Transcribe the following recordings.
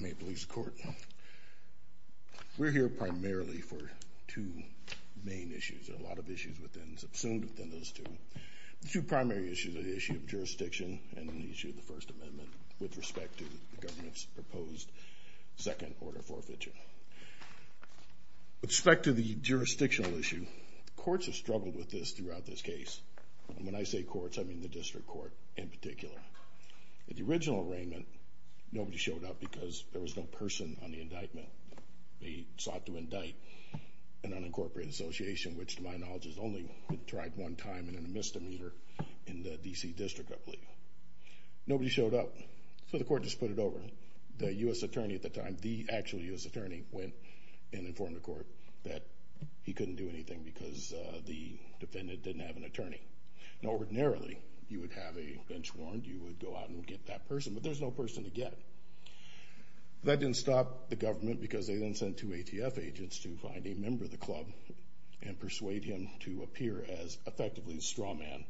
May it please the Court, we're here primarily for two main issues. There are a lot of issues within, subsumed within those two. The two primary issues are the issue of jurisdiction and the issue of the First Amendment with respect to the government's proposed second order forfeiture. With respect to the jurisdictional issue, the courts have struggled with this court in particular. At the original arraignment, nobody showed up because there was no person on the indictment. They sought to indict an unincorporated association, which to my knowledge has only been tried one time and in a misdemeanor in the D.C. District, I believe. Nobody showed up, so the Court just put it over. The U.S. Attorney at the time, the actual U.S. Attorney, went and informed the Court that he couldn't do anything because the defendant didn't have an attorney. Now ordinarily, you would have a bench warrant, you would go out and get that person, but there's no person to get. That didn't stop the government because they then sent two ATF agents to find a member of the club and persuade him to appear as effectively a straw man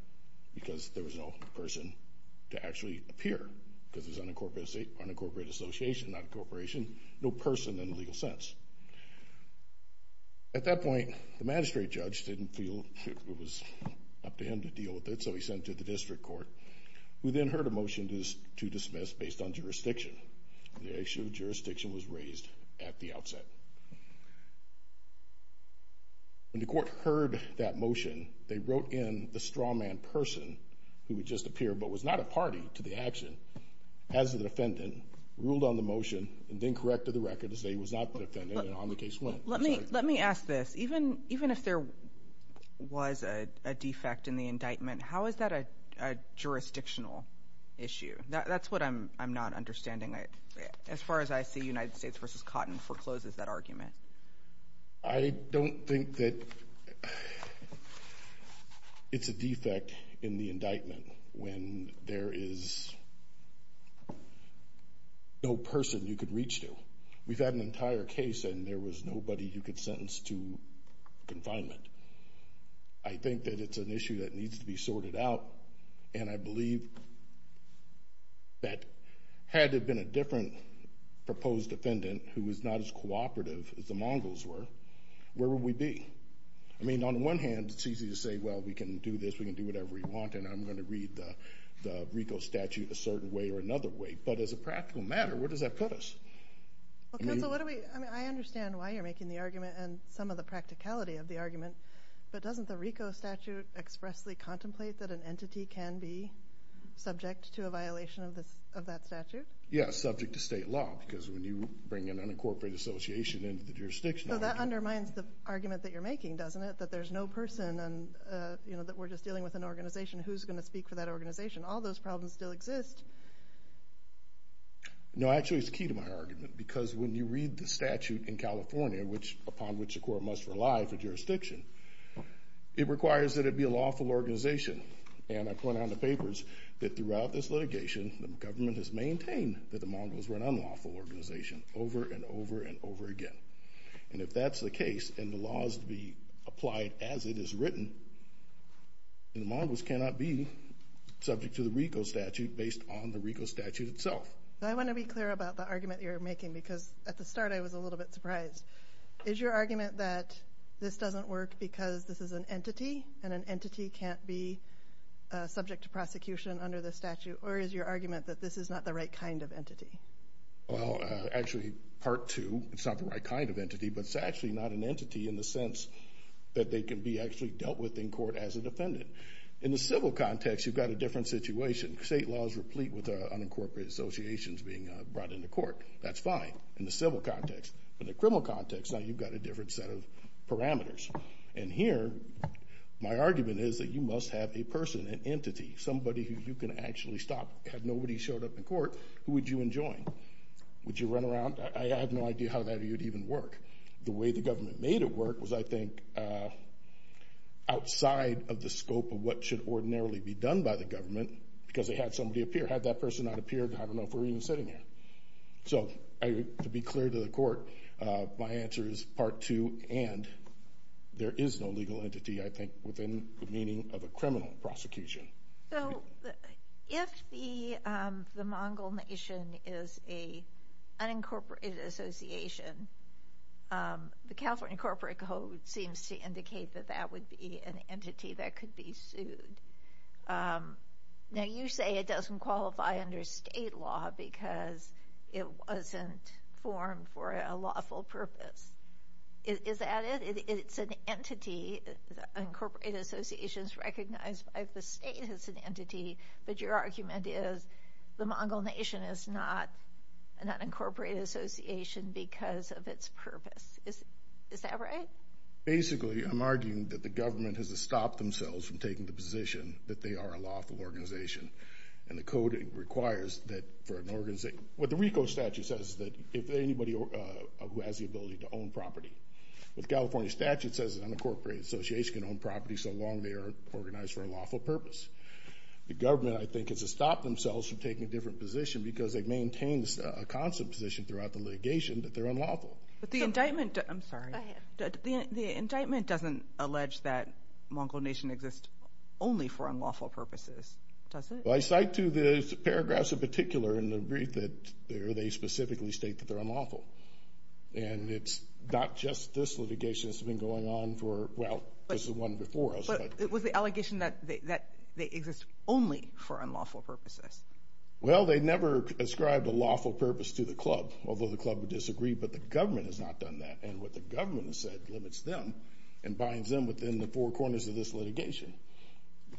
because there was no person to actually appear because it was an unincorporated association, not a corporation, no person in the legal sense. At that point, the magistrate judge didn't feel it was up to him to deal with it, so he sent it to the District Court, who then heard a motion to dismiss based on jurisdiction. The issue of jurisdiction was raised at the outset. When the Court heard that motion, they wrote in the straw man person who would just appear but was not a party to the action as the defendant, ruled on the motion, and then corrected the record to say he was not the defendant and Even if there was a defect in the indictment, how is that a jurisdictional issue? That's what I'm not understanding as far as I see United States v. Cotton forecloses that argument. I don't think that it's a defect in the indictment when there is no person you could reach to. We've had an entire case and there was nobody you could sentence to confinement. I think that it's an issue that needs to be sorted out, and I believe that had it been a different proposed defendant who was not as cooperative as the Mongols were, where would we be? I mean, on the one hand, it's easy to say, well, we can do this, we can do whatever we want, and I'm going to read the RICO statute a certain way or another way, but as a practical matter, where does that put us? Well, counsel, I understand why you're making the argument and some of the practicality of the argument, but doesn't the RICO statute expressly contemplate that an entity can be subject to a violation of that statute? Yes, subject to state law, because when you bring an unincorporated association into the jurisdiction... So that undermines the argument that you're making, doesn't it? That there's no person and that we're just dealing with an organization. Who's going to speak for that organization? All those problems still exist. No, actually, it's key to my argument, because when you read the statute in California, upon which a court must rely for jurisdiction, it requires that it be a lawful organization, and I point out in the papers that throughout this litigation, the government has maintained that the Mongols were an unlawful organization over and over and over again, and if that's the case and the law is to be applied as it is written, then the Mongols cannot be subject to the RICO statute based on the RICO statute itself. I want to be clear about the argument you're making, because at the start, I was a little bit surprised. Is your argument that this doesn't work because this is an entity and an entity can't be subject to prosecution under the statute, or is your argument that this is not the right kind of entity? Well, actually, part two, it's not the right kind of entity, but it's actually not an entity in the sense that they can be actually dealt with in court as a defendant. In the civil context, you've got a different situation. State law is replete with unincorporated associations being brought into court. That's fine in the civil context. In the criminal context, now you've got a different set of parameters, and here, my argument is that you must have a person, an entity, somebody who you can actually stop. Had nobody showed up in court, who would you enjoy? Would you run around? I have no idea how that would even work. The way the government made it work was, I think, outside of the scope of what should ordinarily be done by the government, because they had somebody appear. Had that person not appeared, I don't know if we're even sitting here. So, to be clear to the court, my answer is part two, and there is no legal entity, I think, within the meaning of a criminal prosecution. So, if the Mongol Nation is an unincorporated association, the California Corporate Code seems to indicate that that would be an entity that could be sued. Now, you say it doesn't qualify under state law because it wasn't formed for a lawful purpose. Is that it? It's an entity. Unincorporated association is recognized by the state as an entity, but your argument is the Mongol Nation is not an unincorporated association because of its purpose. Is that right? Basically, I'm arguing that the government has to stop themselves from taking the position that they are a lawful organization, and the code requires that for an organization. What the RICO statute says is that if anybody who has the ability to own property. What the California statute says is an unincorporated association can own property so they are organized for a lawful purpose. The government, I think, has to stop themselves from taking a different position because it maintains a constant position throughout the litigation that they're unlawful. But the indictment, I'm sorry, the indictment doesn't allege that Mongol Nation exists only for unlawful purposes, does it? Well, I cite to the paragraphs in particular in the brief that they specifically state that they're unlawful, and it's not just this litigation that's going on for, well, this is one before us. But it was the allegation that they exist only for unlawful purposes. Well, they never ascribed a lawful purpose to the club, although the club would disagree, but the government has not done that, and what the government has said limits them and binds them within the four corners of this litigation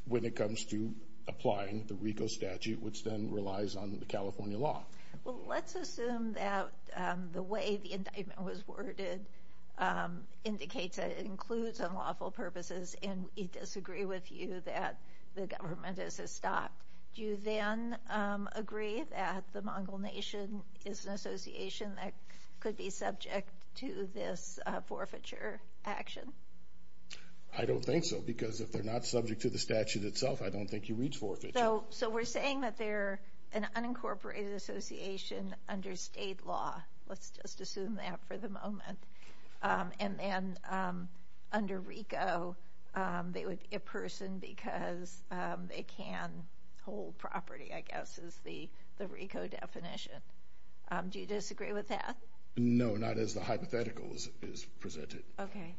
when it comes to applying the RICO statute, which then relies on the California law. Well, let's assume that the way the indictment was states that it includes unlawful purposes, and we disagree with you that the government has stopped. Do you then agree that the Mongol Nation is an association that could be subject to this forfeiture action? I don't think so, because if they're not subject to the statute itself, I don't think you reach forfeiture. So we're saying that they're an unincorporated association under state law. Let's just assume that for the moment. And then under RICO, they would be a person because they can hold property, I guess, is the RICO definition. Do you disagree with that? No, not as the hypothetical is presented. Okay.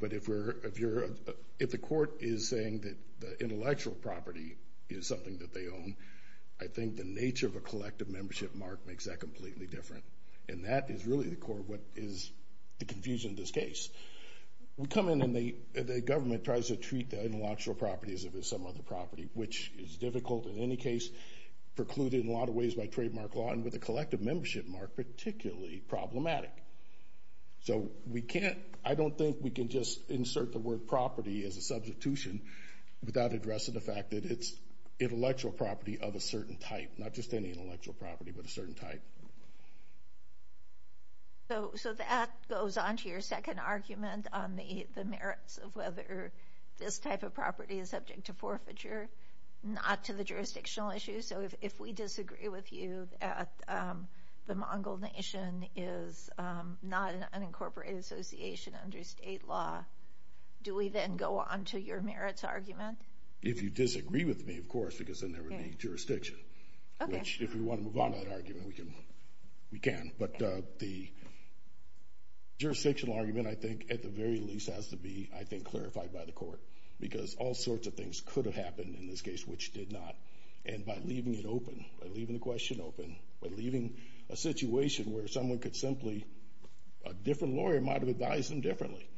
But if the court is saying that the intellectual property is something that they own, I think the nature of a collective membership mark makes that completely different. And that is really the core of what is the confusion in this case. We come in and the government tries to treat the intellectual property as if it's some other property, which is difficult in any case, precluded in a lot of ways by trademark law, and with a collective membership mark, particularly problematic. So we can't, I don't think we can just insert the word type, not just any intellectual property, but a certain type. So that goes on to your second argument on the merits of whether this type of property is subject to forfeiture, not to the jurisdictional issue. So if we disagree with you at the Mongol Nation is not an unincorporated association under state law, do we then go on to your merits argument? If you disagree with me, of course, because then there would be jurisdiction. Okay. Which if we want to move on to that argument, we can. But the jurisdictional argument, I think, at the very least, has to be, I think, clarified by the court. Because all sorts of things could have happened in this case, which did not. And by leaving it open, by leaving the question open, by leaving a situation where someone could simply, a different lawyer might have advised them differently.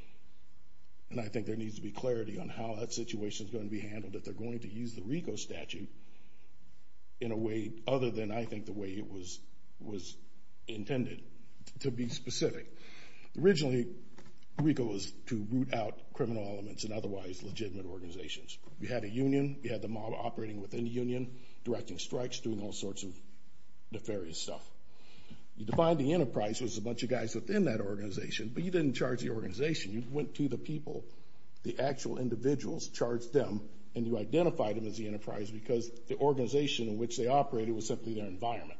And I think there needs to be clarity on how that situation is going to be handled, that they're going to use the RICO statute in a way other than I think the way it was intended to be specific. Originally, RICO was to root out criminal elements in otherwise legitimate organizations. We had a union, we had the mob operating within the union, directing strikes, doing all sorts of nefarious stuff. You define the enterprise was a bunch of guys within that organization. But you didn't charge the organization. You went to the people, the actual individuals, charged them, and you identified them as the enterprise because the organization in which they operated was simply their environment.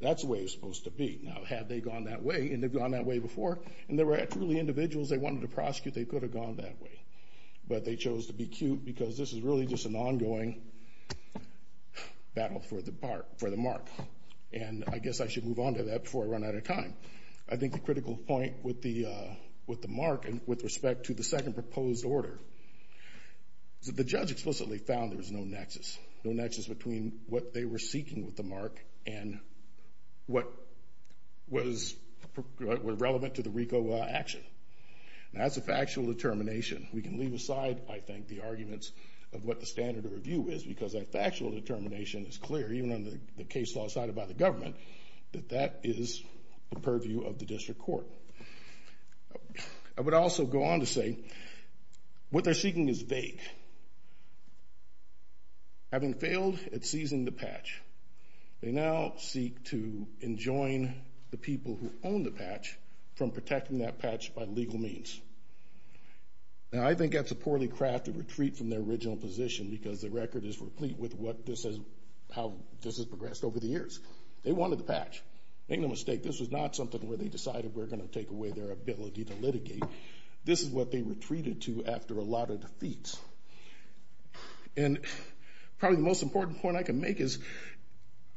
That's the way it's supposed to be. Now, had they gone that way, and they've gone that way before, and they were actually individuals they wanted to prosecute, they could have gone that way. But they chose to be cute because this is really just an ongoing battle for the mark. And I guess I should move on to that before I run out of time. I think the critical point with the mark and with respect to the second proposed order is that the judge explicitly found there was no nexus, no nexus between what they were seeking with the mark and what was relevant to the RICO action. Now, that's a factual determination. We can leave aside, I think, the arguments of what the standard of review is because that factual determination is clear, even on the case law side by the government, that that is the purview of the district court. I would also go on to say what they're seeking is vague. Having failed at seizing the patch, they now seek to enjoin the people who own the patch from protecting that patch by legal means. Now, I think that's a poorly crafted retreat from their original position because the record is replete with how this has progressed over the years. They wanted the patch. Make no mistake, this was not something where they decided we're going to take away their ability to litigate. This is what they retreated to after a lot of defeats. And probably the most important point I can make is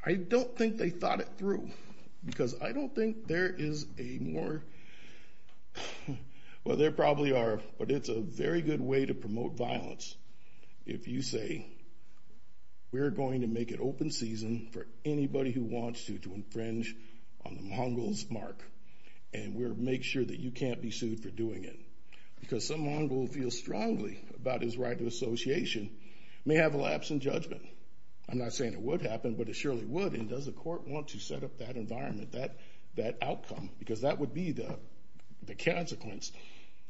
I don't think they thought it through because I don't think there is a more, well, there probably are, but it's a very good way to promote violence if you say we're going to make it open season for anybody who wants to infringe on the Mongol's mark and we'll make sure that you can't be sued for doing it because some Mongol feels strongly about his right of association may have a lapse in judgment. I'm not saying it would happen, but it surely would. And does the court want to set up that environment, that outcome? Because that would be the consequence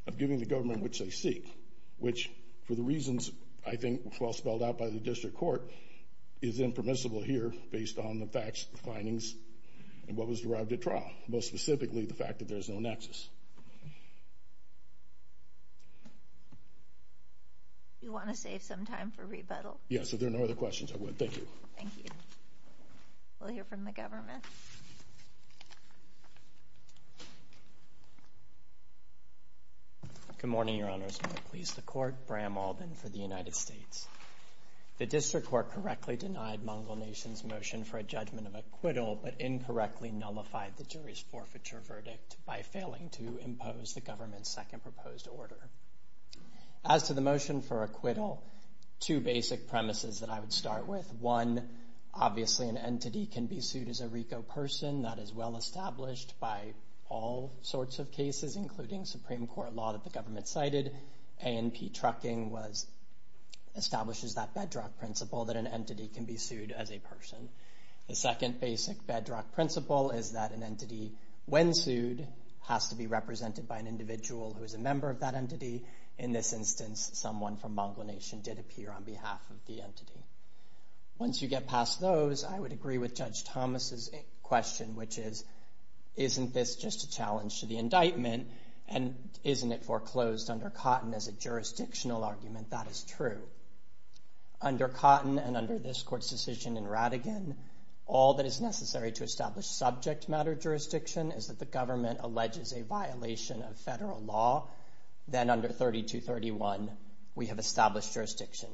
of giving the government which they seek, which for the reasons I think well spelled out by the district court is impermissible here based on the facts, the findings, and what was derived at trial. Most specifically the fact that there's no nexus. You want to save some time for rebuttal? Yes, if there are no other questions, I would. Thank you. Thank you. We'll hear from the government. Good morning, Your Honors. May it please the court. Bram Alden for the United States. The district court correctly denied Mongol Nation's motion for a judgment of acquittal, but incorrectly nullified the jury's forfeiture verdict by failing to impose the government's second proposed order. As to the motion for acquittal, two basic premises that I would start with. One, obviously an entity can be sued as a RICO person. That is well established by all sorts of cases, including Supreme Court law that the government cited. A&P trucking establishes that bedrock principle that an entity can be sued as a person. The second basic bedrock principle is that an entity, when sued, has to be represented by an individual who is a member of that entity. In this instance, someone from Mongol Nation did appear on behalf of the entity. Once you get past those, I would agree with Judge Thomas's question, which is, isn't this just a challenge to the indictment, and isn't it foreclosed under Cotton as a jurisdictional argument? That is true. Under Cotton and under this court's decision in Radigan, all that is necessary to establish subject matter jurisdiction is that the government alleges a violation of federal law. Then under 3231, we have established jurisdiction.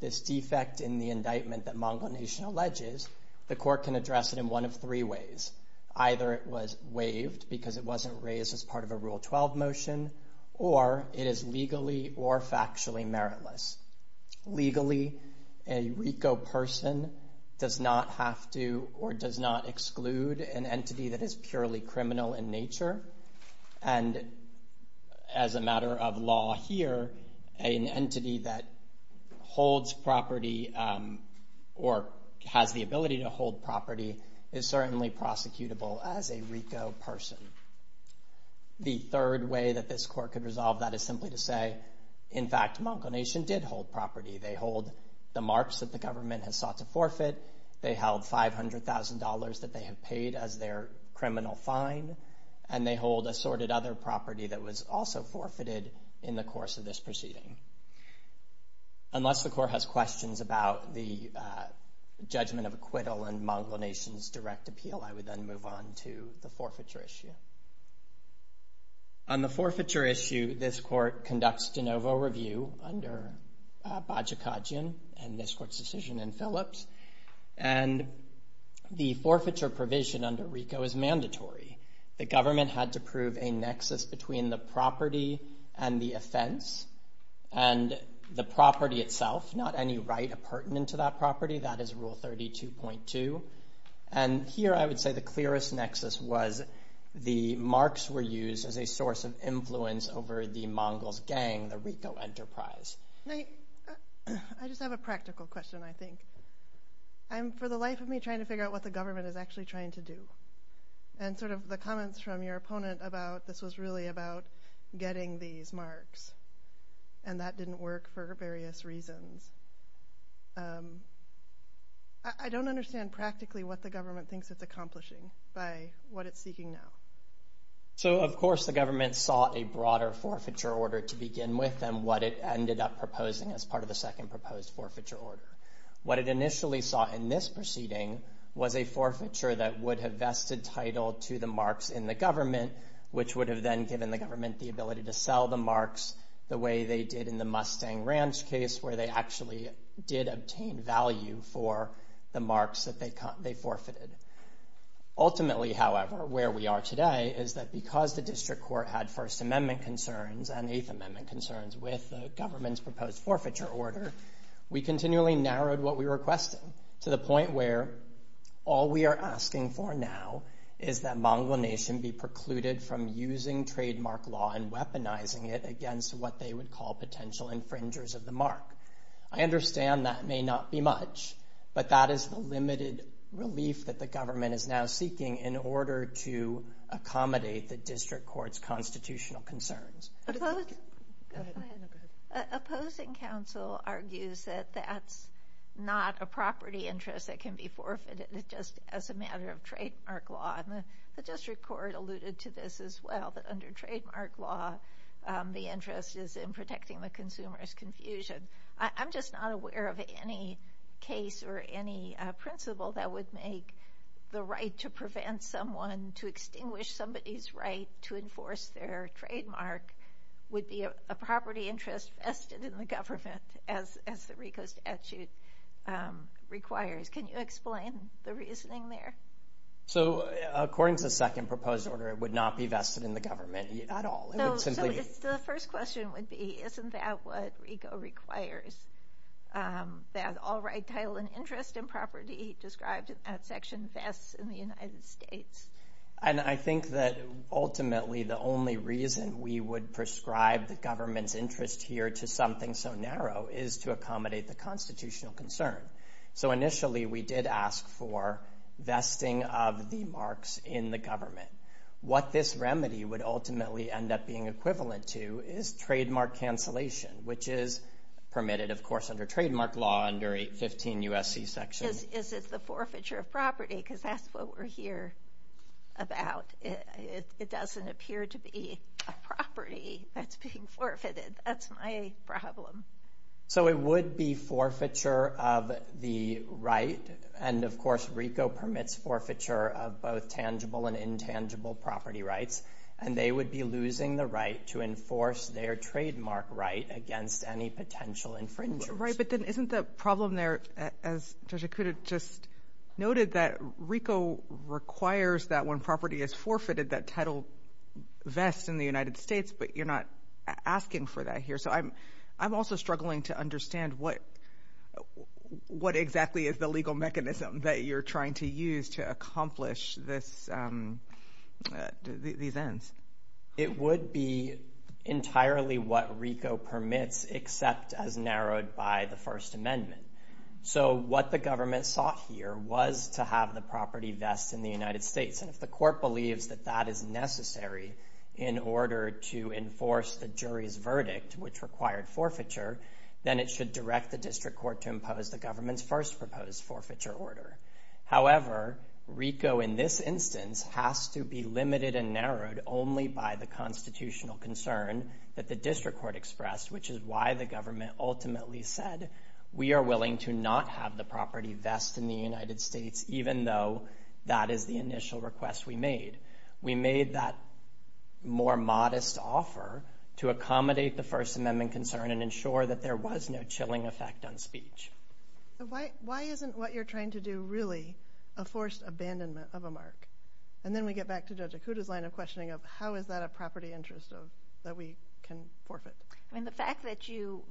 This defect in the indictment that Mongol Nation alleges, the court can address it in one of three ways. Either it was waived because it wasn't raised as part of a Rule 12 motion, or it is legally or factually meritless. Legally, a RICO person does not have to or does not exclude an individual. As a matter of law here, an entity that holds property or has the ability to hold property is certainly prosecutable as a RICO person. The third way that this court could resolve that is simply to say, in fact, Mongol Nation did hold property. They hold the marks that the government has sought to forfeit. They held $500,000 that they have paid as their fine, and they hold assorted other property that was also forfeited in the course of this proceeding. Unless the court has questions about the judgment of acquittal and Mongol Nation's direct appeal, I would then move on to the forfeiture issue. On the forfeiture issue, this court conducts de novo review under Bajikadzian and this court's decision in Phillips. And the forfeiture provision under RICO is mandatory. The government had to prove a nexus between the property and the offense and the property itself, not any right appurtenant to that property. That is Rule 32.2. And here, I would say the clearest nexus was the marks were used as a source of influence over the Mongols gang, the RICO enterprise. I just have a practical question, I think. I'm, for the life of me, trying to figure out what the government is actually trying to do. And sort of the comments from your opponent about this was really about getting these marks, and that didn't work for various reasons. I don't understand practically what the government thinks it's accomplishing by what it's seeking now. So, of course, the government sought a broader forfeiture order to begin with, and what it ended up proposing as part of the second proposed forfeiture order. What it initially sought in this proceeding was a forfeiture that would have vested title to the marks in the government, which would have then given the government the ability to sell the marks the way they did in the Mustang Ranch case, where they actually did obtain value for the marks that they forfeited. Ultimately, however, where we are today is that because the district court had First Amendment concerns and Eighth Amendment concerns with the government's proposed forfeiture order, we continually narrowed what we were requesting to the point where all we are asking for now is that Mongol Nation be precluded from using trademark law and weaponizing it against what they would call potential infringers of the mark. I understand that may not be much, but that is the limited relief that the government is now seeking in accommodating the district court's constitutional concerns. Opposing counsel argues that that's not a property interest that can be forfeited, just as a matter of trademark law. The district court alluded to this as well, that under trademark law, the interest is in protecting the consumer's confusion. I'm just not aware of any case or any principle that would make the right to prevent someone to somebody's right to enforce their trademark would be a property interest vested in the government, as the RICO statute requires. Can you explain the reasoning there? According to the second proposed order, it would not be vested in the government at all. The first question would be, isn't that what RICO requires? That all right title and interest in property described in that section vests in the United States. I think that ultimately the only reason we would prescribe the government's interest here to something so narrow is to accommodate the constitutional concern. Initially, we did ask for vesting of the marks in the government. What this remedy would ultimately end up being equivalent to is trademark cancellation, which is permitted, of course, under trademark law under 815 USC section. Is it the forfeiture of property? Because that's what we're here about. It doesn't appear to be a property that's being forfeited. That's my problem. It would be forfeiture of the right. Of course, RICO permits forfeiture of both tangible and intangible property rights. They would be losing the right to enforce their trademark right against any potential infringement. Right. But then isn't the problem there, as I could have just noted, that RICO requires that when property is forfeited, that title vests in the United States, but you're not asking for that here. So I'm I'm also struggling to understand what what exactly is the legal mechanism that you're trying to use to accomplish this, these ends. It would be entirely what RICO permits, except as narrowed by the First Amendment. So what the government sought here was to have the property vests in the United States. And if the court believes that that is necessary in order to enforce the jury's verdict, which required forfeiture, then it should direct the district court to impose the government's first proposed forfeiture order. However, RICO, in this instance, has to be limited and narrowed only by the constitutional concern that the which is why the government ultimately said we are willing to not have the property vest in the United States, even though that is the initial request we made. We made that more modest offer to accommodate the First Amendment concern and ensure that there was no chilling effect on speech. Why isn't what you're trying to do really a forced abandonment of a mark? And then we get back to Judge Okuda's line of questioning of how is that a property interest of that we can forfeit? I mean, the fact that you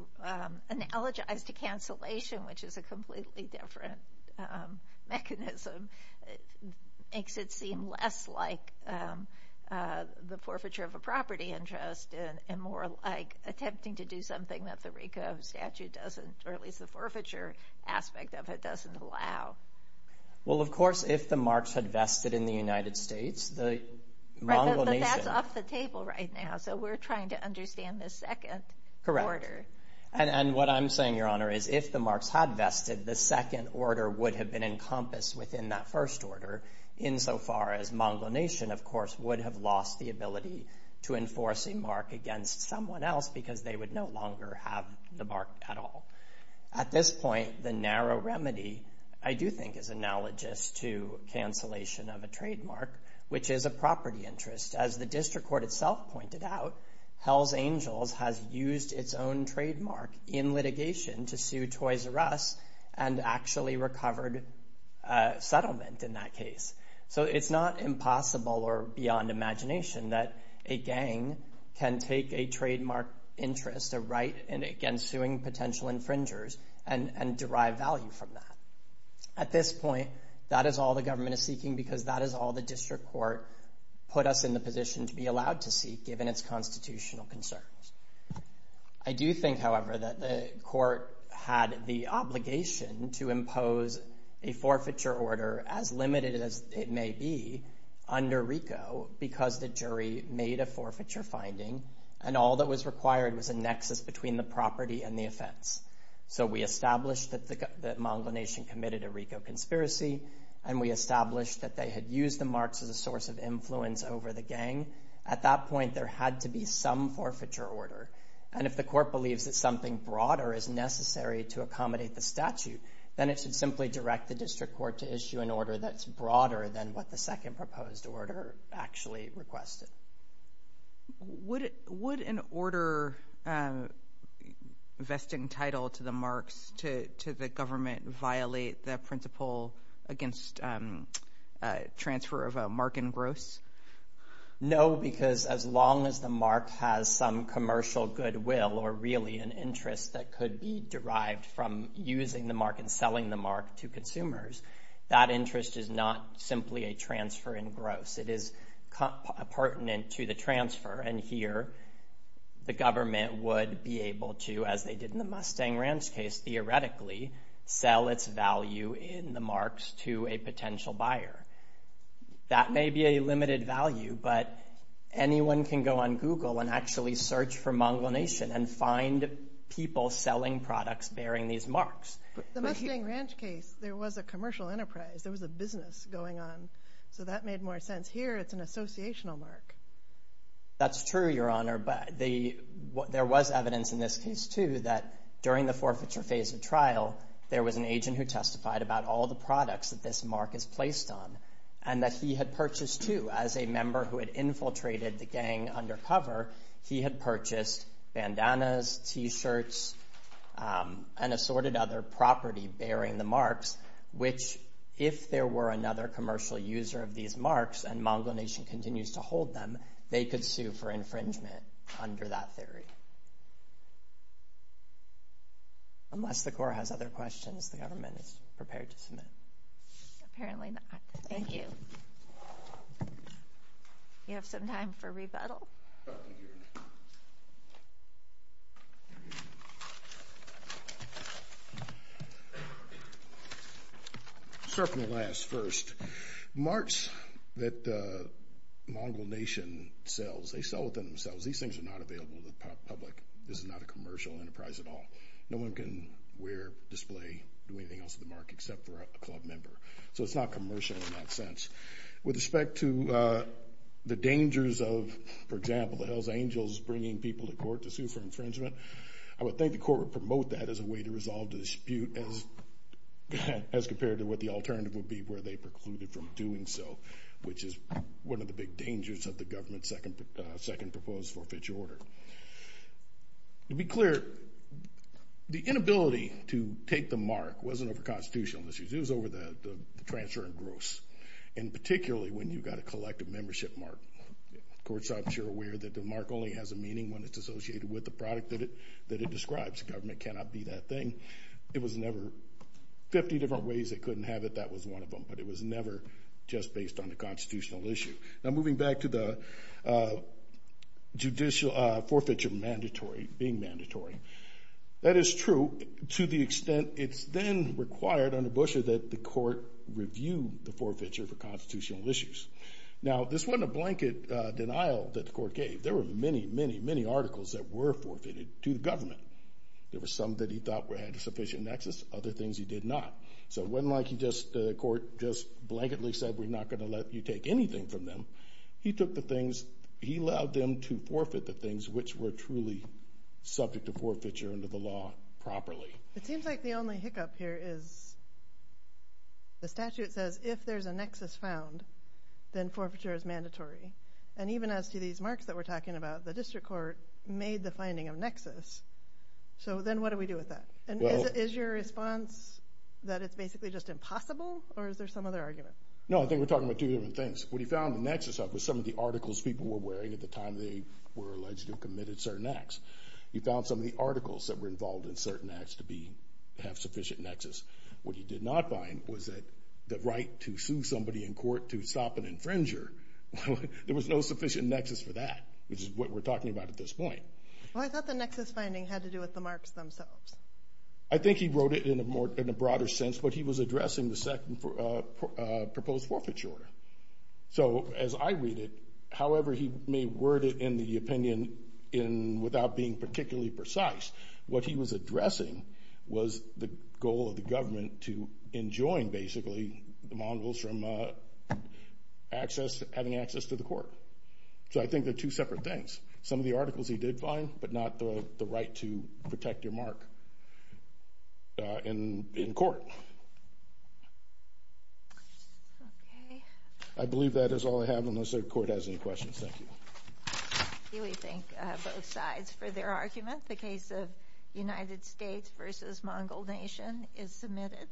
analogize to cancellation, which is a completely different mechanism, makes it seem less like the forfeiture of a property interest and more like attempting to do something that the RICO statute doesn't or at least the forfeiture aspect of it doesn't allow. Well, of course, if the marks had vested in the United States, the correct order. And what I'm saying, Your Honor, is if the marks had vested, the second order would have been encompassed within that first order insofar as Mongol Nation, of course, would have lost the ability to enforce a mark against someone else because they would no longer have the mark at all. At this point, the narrow remedy, I do think, is analogous to cancellation of a trademark, which is a property interest. As the district court itself pointed out, Hells Angels has used its own trademark in litigation to sue Toys R Us and actually recovered settlement in that case. So it's not impossible or beyond imagination that a gang can take a trademark interest, a right against suing potential infringers and derive value from that. At this point, that is all the government is seeking because that is all the district court put us in the position to be allowed to seek given its constitutional concerns. I do think, however, that the court had the obligation to impose a forfeiture order, as limited as it may be, under RICO because the jury made a forfeiture finding and all that was a RICO conspiracy, and we established that they had used the marks as a source of influence over the gang. At that point, there had to be some forfeiture order. And if the court believes that something broader is necessary to accommodate the statute, then it should simply direct the district court to issue an order that's broader than what the second proposed order actually requested. Would an order vesting title to the marks to the government violate the principle against transfer of a mark in gross? No, because as long as the mark has some commercial goodwill or really an interest that could be derived from using the mark and selling the mark to consumers, that interest is not simply a transfer in gross. It is a pertinent to the transfer. And here, the government would be able to, as they did in the Mustang Ranch case, theoretically, sell its value in the marks to a potential buyer. That may be a limited value, but anyone can go on Google and actually search for Mongol Nation and find people selling products bearing these marks. The Mustang Ranch case, there was a commercial enterprise. There was a business going on. So that made more sense. Here, it's an associational mark. That's true, Your Honor. But there was evidence in this case, too, that during the forfeiture phase of trial, there was an agent who testified about all the products that this mark is placed on and that he had purchased, too. As a member who had infiltrated the gang undercover, he had property bearing the marks, which, if there were another commercial user of these marks and Mongol Nation continues to hold them, they could sue for infringement under that theory. Unless the Court has other questions, the government is prepared to submit. Apparently not. Thank you. You have some time for rebuttal. I'll start from the last, first. Marks that Mongol Nation sells, they sell within themselves. These things are not available to the public. This is not a commercial enterprise at all. No one can wear, display, do anything else with the mark except for a club member. So it's not commercial in that sense. With respect to the dangers of, for example, the Hells Angels bringing people to court to sue for infringement, I would think the Court would promote that as a way to resolve the dispute as compared to what the alternative would be where they precluded from doing so, which is one of the big dangers of the government's second proposed forfeiture order. To be clear, the inability to take the mark wasn't over constitutional issues. It was over the transfer and gross, and particularly when you've got a collective membership mark. Of course, I'm sure aware that the mark only has a meaning when it's associated with the product that it describes. Government cannot be that thing. It was never, 50 different ways they couldn't have it, that was one of them, but it was never just based on the constitutional issue. Now moving back to the judicial forfeiture mandatory, being mandatory. That is true to the extent it's then required under Bush that the Court review the forfeiture for constitutional issues. Now this wasn't a blanket denial that the Court gave. There were many, many, many articles that were forfeited to the government. There were some that he thought had a sufficient nexus, other things he did not. So it wasn't like the Court just blanketly said, we're not going to let you take anything from them. He took the things, he allowed them to forfeit the things which were truly subject to forfeiture under the law properly. It seems like the only hiccup here is the statute says if there's a nexus found, then forfeiture is mandatory. And even as to these finding of nexus, so then what do we do with that? And is your response that it's basically just impossible, or is there some other argument? No, I think we're talking about two different things. What he found the nexus of was some of the articles people were wearing at the time they were alleged to have committed certain acts. He found some of the articles that were involved in certain acts to have sufficient nexus. What he did not find was that the right to sue somebody in court to stop an infringer, there was no sufficient nexus for that, which is what we're talking about. Well, I thought the nexus finding had to do with the marks themselves. I think he wrote it in a broader sense, but he was addressing the second proposed forfeiture order. So as I read it, however he may word it in the opinion without being particularly precise, what he was addressing was the goal of the government to enjoin basically the mongrels from having access to the court. So I think they're two separate things. Some of the articles he did find, but not the right to protect your mark in court. Okay. I believe that is all I have unless the court has any questions. Thank you. We thank both sides for their argument. The case of United States versus Mongol Nation is submitted.